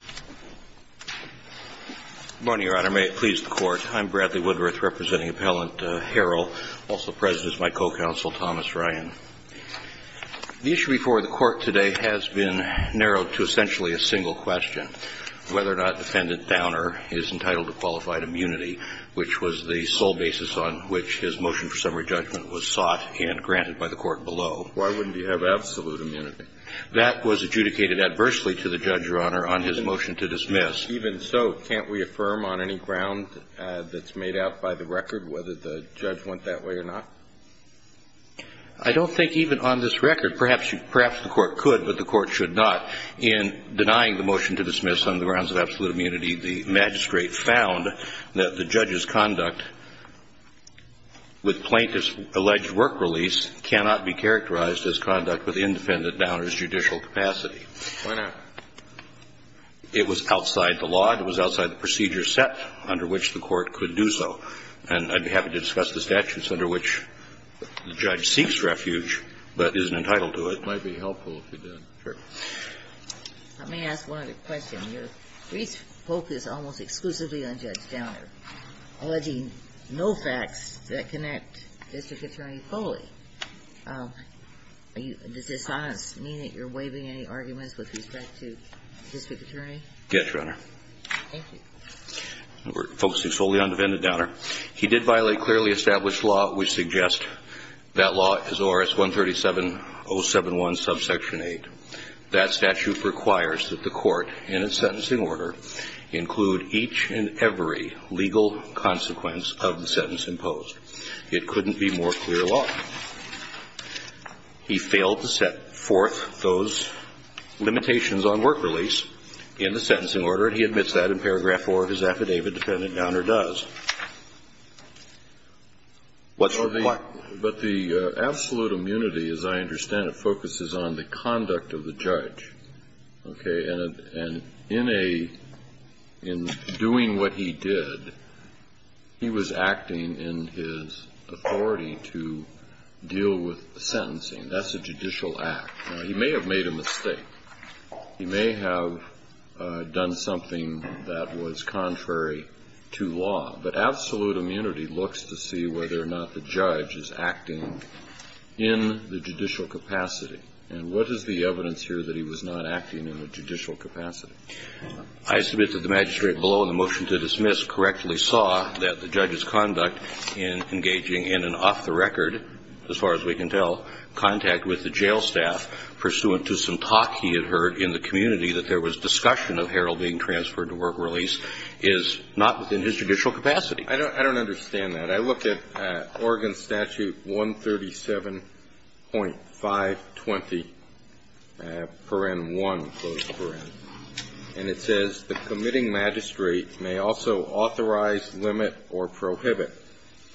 Good morning, Your Honor. May it please the Court. I'm Bradley Woodruth, representing Appellant Harrell. Also present is my co-counsel, Thomas Ryan. The issue before the Court today has been narrowed to essentially a single question, whether or not Defendant Downer is entitled to qualified immunity, which was the sole basis on which his motion for summary judgment was sought and granted by the Court below. Why wouldn't he have absolute immunity? That was adjudicated adversely to the judge, Your Honor, on his motion to dismiss. Even so, can't we affirm on any ground that's made out by the record whether the judge went that way or not? I don't think even on this record. Perhaps the Court could, but the Court should not. In denying the motion to dismiss on the grounds of absolute immunity, the magistrate found that the judge's conduct with plaintiff's alleged work release cannot be characterized as conduct with independent Downer's judicial capacity. Why not? It was outside the law. It was outside the procedure set under which the Court could do so. And I'd be happy to discuss the statutes under which the judge seeks refuge but isn't entitled to it. It might be helpful if you did. Sure. Let me ask one other question. Your brief focus almost exclusively on Judge Downer, alleging no facts that connect District Attorney Foley. Does this honestly mean that you're waiving any arguments with respect to District Attorney? Yes, Your Honor. Thank you. We're focusing solely on defendant Downer. He did violate clearly established law which suggests that law is ORS 137071, subsection 8. That statute requires that the Court, in its sentencing order, include each and every legal consequence of the sentence imposed. It couldn't be more clear law. He failed to set forth those limitations on work release in the sentencing order, and he admits that in paragraph 4 of his affidavit, defendant Downer does. What's the point? But the absolute immunity, as I understand it, focuses on the conduct of the judge. Okay? And in doing what he did, he was acting in his authority to deal with sentencing. That's a judicial act. He may have made a mistake. He may have done something that was contrary to law. But absolute immunity looks to see whether or not the judge is acting in the judicial capacity. And what is the evidence here that he was not acting in the judicial capacity? I submit that the magistrate below in the motion to dismiss correctly saw that the judge's conduct in engaging in an off-the-record, as far as we can tell, contact with the jail staff pursuant to some talk he had heard in the community that there was discussion of Harrell being transferred to work release is not within his judicial capacity. I don't understand that. I looked at Oregon Statute 137.520, paren 1, and it says, the committing magistrate may also authorize, limit, or prohibit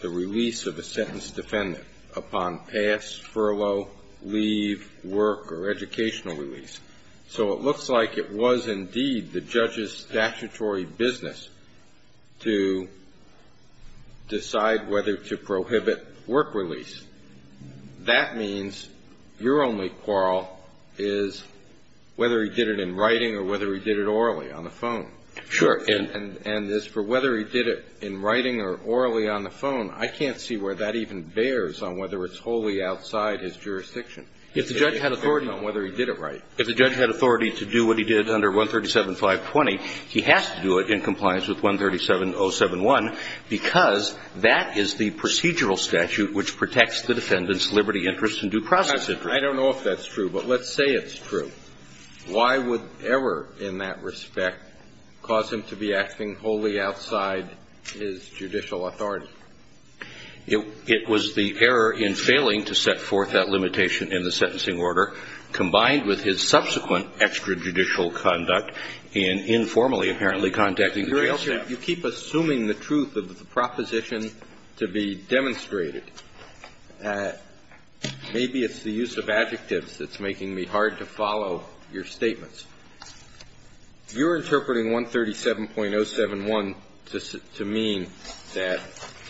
the release of a sentenced defendant upon pass, furlough, leave, work, or educational release. So it looks like it was indeed the judge's statutory business to decide whether to prohibit work release. That means your only quarrel is whether he did it in writing or whether he did it orally on the phone. Sure. And as for whether he did it in writing or orally on the phone, I can't see where that even bears on whether it's wholly outside his jurisdiction. If the judge had authority on whether he did it right. If the judge had authority to do what he did under 137.520, he has to do it in compliance with 137.071 because that is the procedural statute which protects the defendant's liberty, interest, and due process interest. I don't know if that's true, but let's say it's true. Why would error in that respect cause him to be acting wholly outside his judicial authority? It was the error in failing to set forth that limitation in the sentencing order combined with his subsequent extrajudicial conduct in informally apparently contacting the jail staff. You keep assuming the truth of the proposition to be demonstrated. Maybe it's the use of adjectives that's making me hard to follow your statements. You're interpreting 137.071 to mean that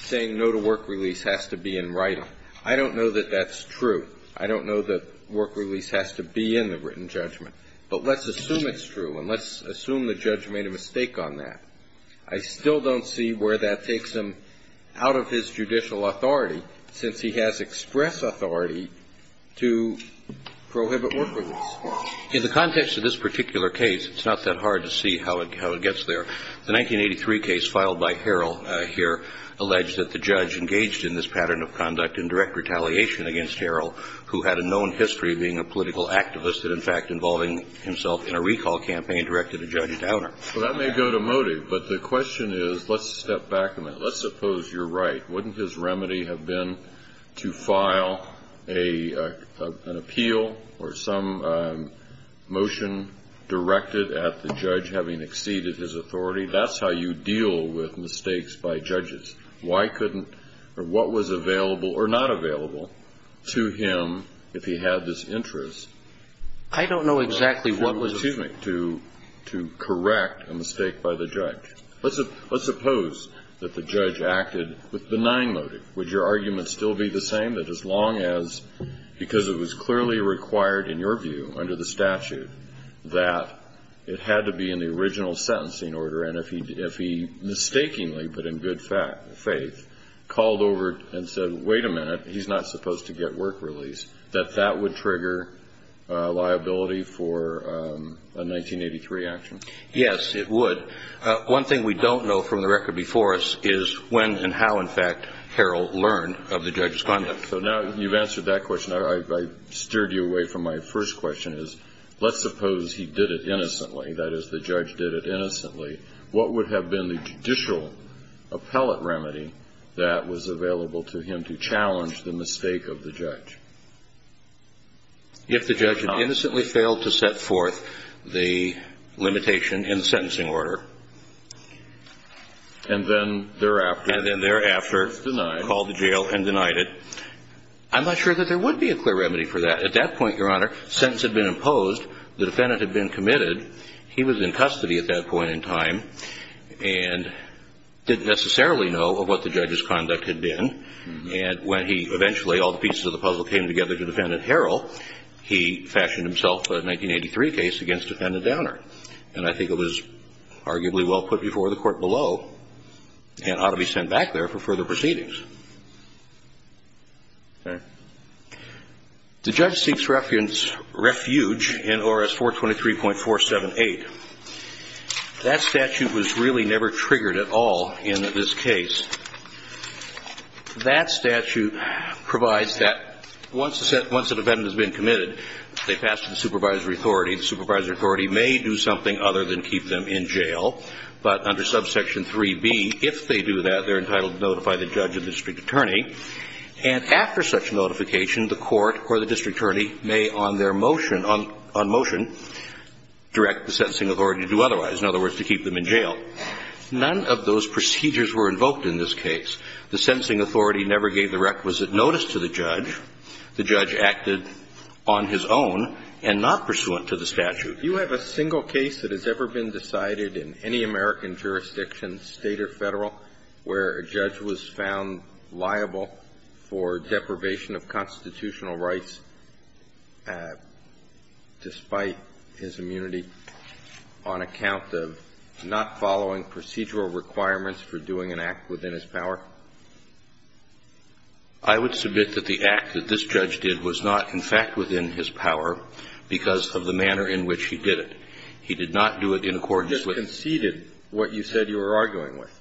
saying no to work release has to be in writing. I don't know that that's true. I don't know that work release has to be in the written judgment. But let's assume it's true and let's assume the judge made a mistake on that. I still don't see where that takes him out of his judicial authority since he has express authority to prohibit work release. In the context of this particular case, it's not that hard to see how it gets there. The 1983 case filed by Harrell here alleged that the judge engaged in this pattern of conduct in direct retaliation against Harrell, who had a known history of being a political activist that in fact involving himself in a recall campaign directed a judge downer. So that may go to motive, but the question is, let's step back a minute. Let's suppose you're right. Wouldn't his remedy have been to file an appeal or some motion directed at the judge having exceeded his authority? That's how you deal with mistakes by judges. Why couldn't or what was available or not available to him if he had this interest? I don't know exactly what was the reason to correct a mistake by the judge. Let's suppose that the judge acted with benign motive. Would your argument still be the same, that as long as, because it was clearly required in your view under the statute that it had to be in the original sentencing order, and if he mistakenly, but in good faith, called over and said, wait a minute, he's not supposed to get work released, that that would trigger liability for a 1983 action? Yes, it would. One thing we don't know from the record before us is when and how, in fact, Harrell learned of the judge's conduct. So now you've answered that question. I steered you away from my first question, is let's suppose he did it innocently, that is, the judge did it innocently. What would have been the judicial appellate remedy that was available to him to challenge the mistake of the judge? If the judge had innocently failed to set forth the limitation in the sentencing order, and then thereafter called the jail and denied it, I'm not sure that there would be a clear remedy for that. At that point, Your Honor, sentence had been imposed, the defendant had been admitted, he was in custody at that point in time, and didn't necessarily know of what the judge's conduct had been. And when he eventually, all the pieces of the puzzle came together to defendant Harrell, he fashioned himself a 1983 case against defendant Downer. And I think it was arguably well put before the court below, and ought to be sent back there for further proceedings. The judge seeks refuge in ORS 423.478. That statute was really never triggered at all in this case. That statute provides that once a defendant has been committed, they pass to the supervisory authority. The supervisory authority may do something other than keep them in jail, but under subsection 3B, if they do that, they're entitled to notify the judge and district attorney, and after such notification, the court or the district attorney may on their motion, on motion, direct the sentencing authority to do otherwise, in other words, to keep them in jail. None of those procedures were invoked in this case. The sentencing authority never gave the requisite notice to the judge. The judge acted on his own and not pursuant to the statute. Roberts, do you have a single case that has ever been decided in any American jurisdiction, State or Federal, where a judge was found liable for deprivation of constitutional rights despite his immunity on account of not following procedural requirements for doing an act within his power? I would submit that the act that this judge did was not, in fact, within his power because of the manner in which he did it. He did not do it in accordance with the statute. He just conceded what you said you were arguing with.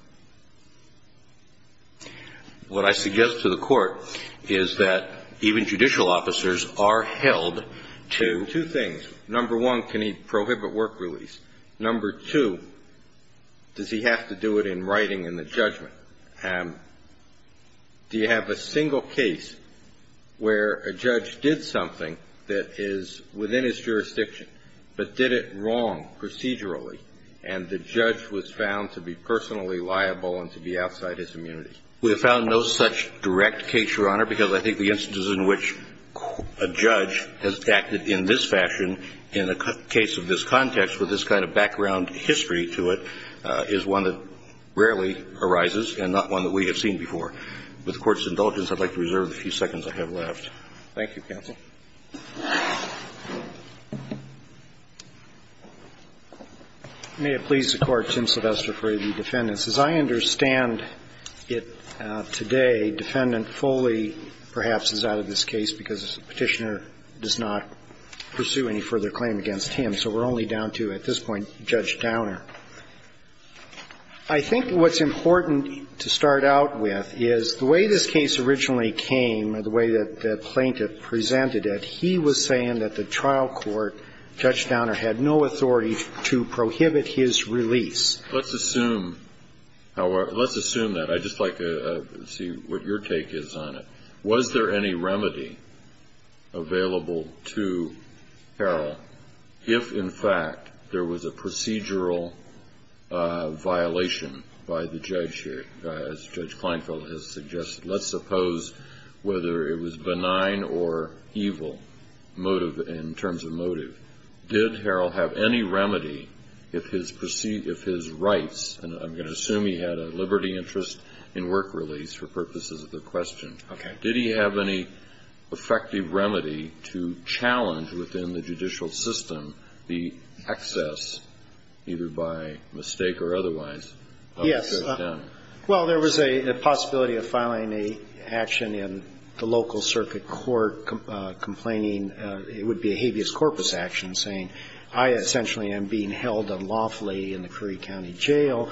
What I suggest to the Court is that even judicial officers are held to two things. Number one, can he prohibit work release? Number two, does he have to do it in writing in the judgment? Do you have a single case where a judge did something that is within his jurisdiction but did it wrong procedurally and the judge was found to be personally liable and to be outside his immunity? We have found no such direct case, Your Honor, because I think the instances in which a judge has acted in this fashion in a case of this context with this kind of background history to it is one that rarely arises and not one that we have seen before. With the Court's indulgence, I'd like to reserve the few seconds I have left. Thank you, counsel. May it please the Court, Tim Sylvester for the defendants. As I understand it today, defendant Foley perhaps is out of this case because the Petitioner does not pursue any further claim against him. So we're only down to, at this point, Judge Downer. I think what's important to start out with is the way this case originally came, the way that the plaintiff presented it, he was saying that the trial court, Judge Downer, had no authority to prohibit his release. Let's assume that. I'd just like to see what your take is on it. Was there any remedy available to Harrell if, in fact, there was a procedural violation by the judge, as Judge Kleinfeld has suggested? Let's suppose whether it was benign or evil in terms of motive. Did Harrell have any remedy if his rights, and I'm going to assume he had a liberty interest in work release for purposes of the question. Okay. Did he have any effective remedy to challenge within the judicial system the excess, either by mistake or otherwise, of Judge Downer? Yes. Well, there was a possibility of filing an action in the local circuit court complaining it would be a habeas corpus action, saying I essentially am being held unlawfully in the Curry County Jail,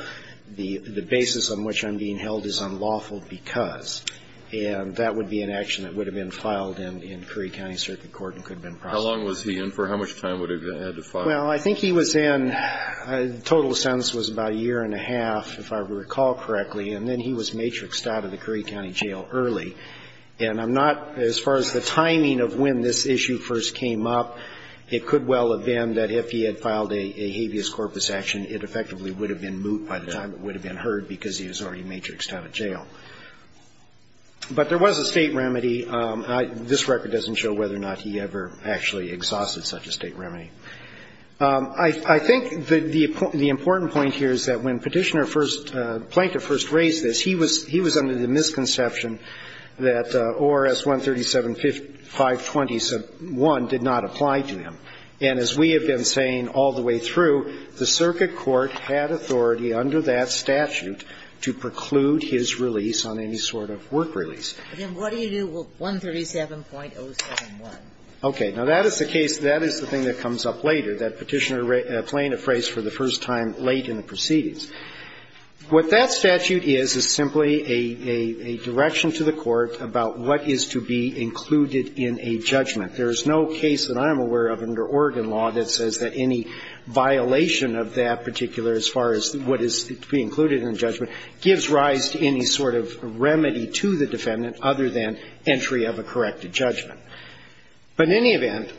the basis on which I'm being held is unlawful because. And that would be an action that would have been filed in Curry County Circuit Court and could have been processed. How long was he in for? How much time would he have had to file? Well, I think he was in, the total sentence was about a year and a half, if I recall correctly, and then he was matrixed out of the Curry County Jail early. And I'm not, as far as the timing of when this issue first came up, it could well have been that if he had filed a habeas corpus action, it effectively would have been moot by the time it would have been heard because he was already matrixed out of jail. But there was a State remedy. This record doesn't show whether or not he ever actually exhausted such a State remedy. I think the important point here is that when Petitioner first, Plaintiff first raised this, he was under the misconception that ORS 137520-1 did not apply to him. And as we have been saying all the way through, the circuit court had authority under that statute to preclude his release on any sort of work release. Ginsburg. And what do you do with 137.071? Okay. Now, that is the case, that is the thing that comes up later, that Petitioner plaintiff raised for the first time late in the proceedings. What that statute is, is simply a direction to the court about what is to be included in a judgment. There is no case that I am aware of under Oregon law that says that any violation of that particular, as far as what is to be included in a judgment, gives rise to any sort of remedy to the defendant other than entry of a corrected judgment. But in any event,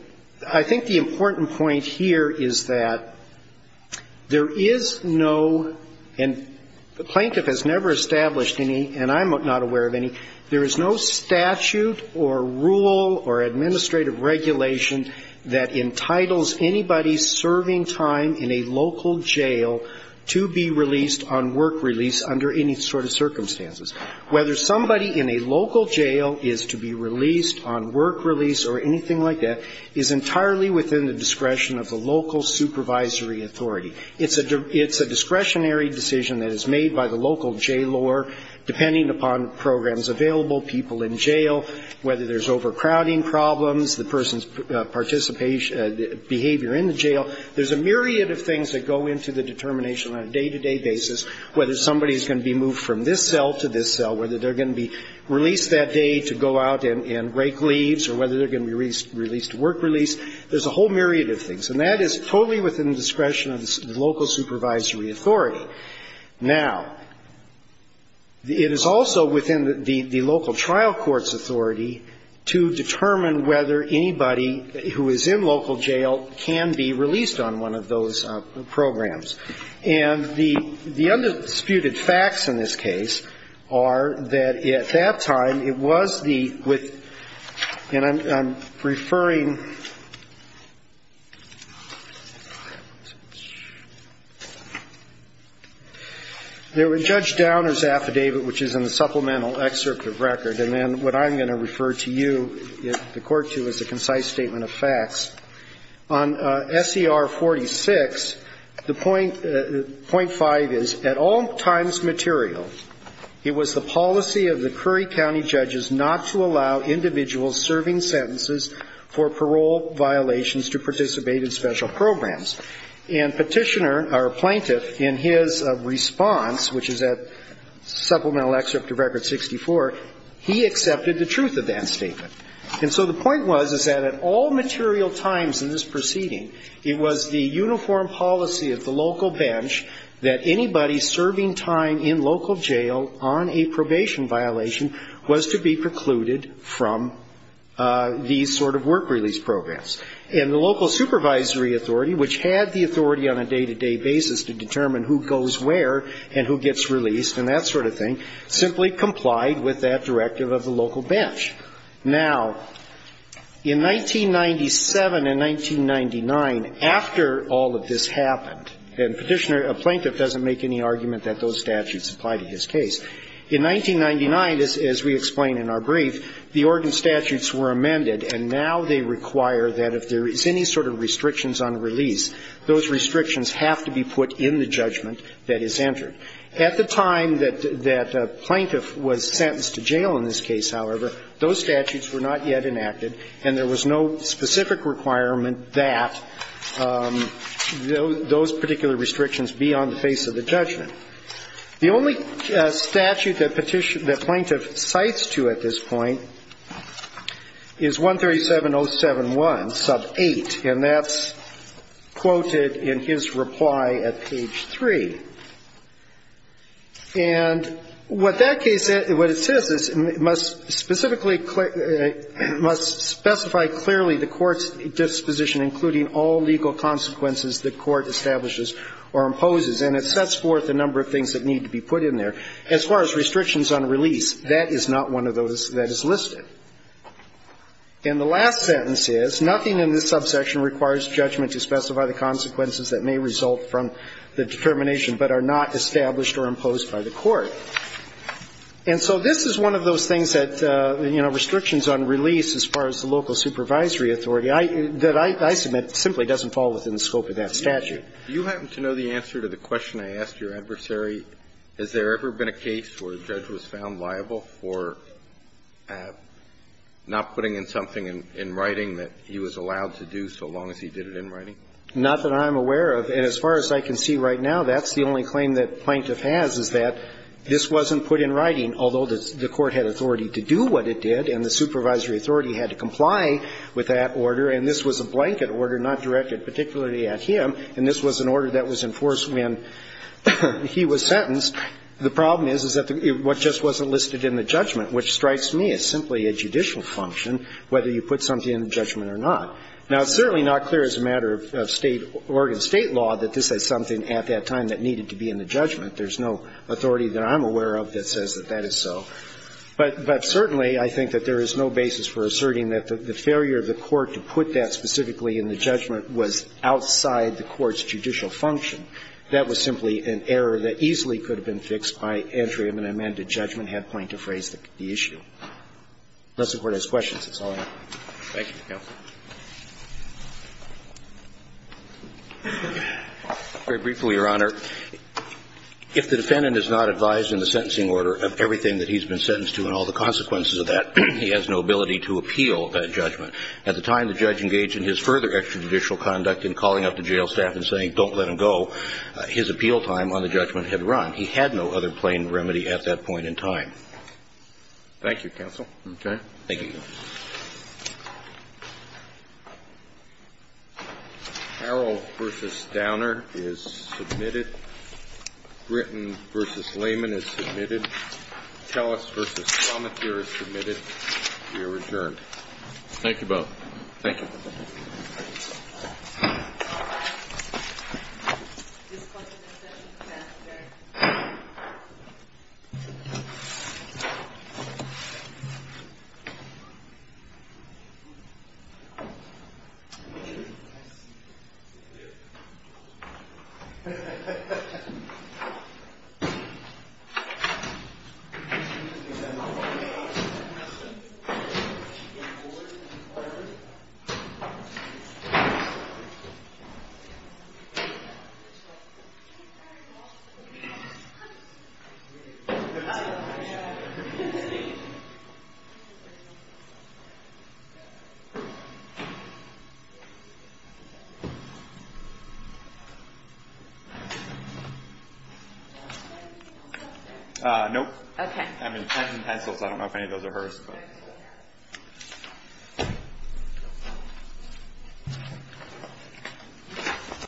I think the important point here is that there is no, and the plaintiff has never established any, and I'm not aware of any, there is no statute or rule or administrative regulation that entitles anybody serving time in a local jail to be released on work release under any sort of circumstances. Whether somebody in a local jail is to be released on work release or anything like that is entirely within the discretion of the local supervisory authority. It's a discretionary decision that is made by the local jailor, depending upon programs available, people in jail, whether there's overcrowding problems, the person's participation, behavior in the jail. There's a myriad of things that go into the determination on a day-to-day basis, whether somebody is going to be moved from this cell to this cell, whether they're going to be released that day to go out and break leaves, or whether they're going to be released to work release. There's a whole myriad of things. And that is totally within the discretion of the local supervisory authority. Now, it is also within the local trial court's authority to determine whether anybody who is in local jail can be released on one of those programs. And the undisputed facts in this case are that at that time, it was the, and I'm referring, there were Judge Downer's affidavit, which is in the supplemental excerpt of record, and then what I'm going to refer to you, the court, to as a concise statement of facts. On SCR 46, the point, point five is, at all times material, it was the policy of the local bench that anybody serving time in local jail on a probation violation was to be precluded from these sort of procedures. And the point was that at all material times in this proceeding, it was the uniform policy of the local bench that anybody serving time in local jail on a probation violation was to be precluded from these sort of procedures. Now, in 1997 and 1999, after all of this happened, and Petitioner, a plaintiff doesn't make any argument that those statutes apply to his case, in 1999, as we explain in our brief, the ordinance statutes were amended, and now they require that if there is any sort of restrictions on release, those restrictions have to be put in the judgment that is entered. At the time that a plaintiff was sentenced to jail in this case, however, those statutes were not yet enacted, and there was no specific requirement that those particular restrictions be on the face of the judgment. The only statute that plaintiff cites to at this point is 137071, sub 8, and that's quoted in his reply at page 3. And what that case says, what it says is it must specifically, it must specify clearly the court's disposition, including all legal consequences the court establishes or imposes, and it sets forth a number of things that need to be put in there. As far as restrictions on release, that is not one of those that is listed. And the last sentence is, nothing in this subsection requires judgment to specify the consequences that may result from the determination but are not established or imposed by the court. And so this is one of those things that, you know, restrictions on release as far as the local supervisory authority, that I submit simply doesn't fall within the scope of that statute. Do you happen to know the answer to the question I asked your adversary? Has there ever been a case where a judge was found liable for not putting in something in writing that he was allowed to do so long as he did it in writing? Not that I'm aware of. And as far as I can see right now, that's the only claim that plaintiff has, is that this wasn't put in writing, although the court had authority to do what it did and the supervisory authority had to comply with that order, and this was a blanket order not directed particularly at him. And this was an order that was enforced when he was sentenced. The problem is, is that what just wasn't listed in the judgment, which strikes me as simply a judicial function, whether you put something in the judgment or not. Now, it's certainly not clear as a matter of State, Oregon State law, that this is something at that time that needed to be in the judgment. There's no authority that I'm aware of that says that that is so. But certainly, I think that there is no basis for asserting that the failure of the judgment was outside the court's judicial function. That was simply an error that easily could have been fixed by entry of an amended judgment had plaintiff raised the issue. Unless the Court has questions, that's all I have. Thank you, counsel. Very briefly, Your Honor. If the defendant is not advised in the sentencing order of everything that he's been sentenced to and all the consequences of that, he has no ability to appeal that judgment. At the time the judge engaged in his further extrajudicial conduct in calling up the jail staff and saying, don't let him go, his appeal time on the judgment had run. He had no other plain remedy at that point in time. Thank you, counsel. Okay. Thank you. Carroll v. Downer is submitted. Gritton v. Layman is submitted. Tellis v. Plummetier is submitted. You are adjourned. Thank you, both. Thank you. Nope. Okay.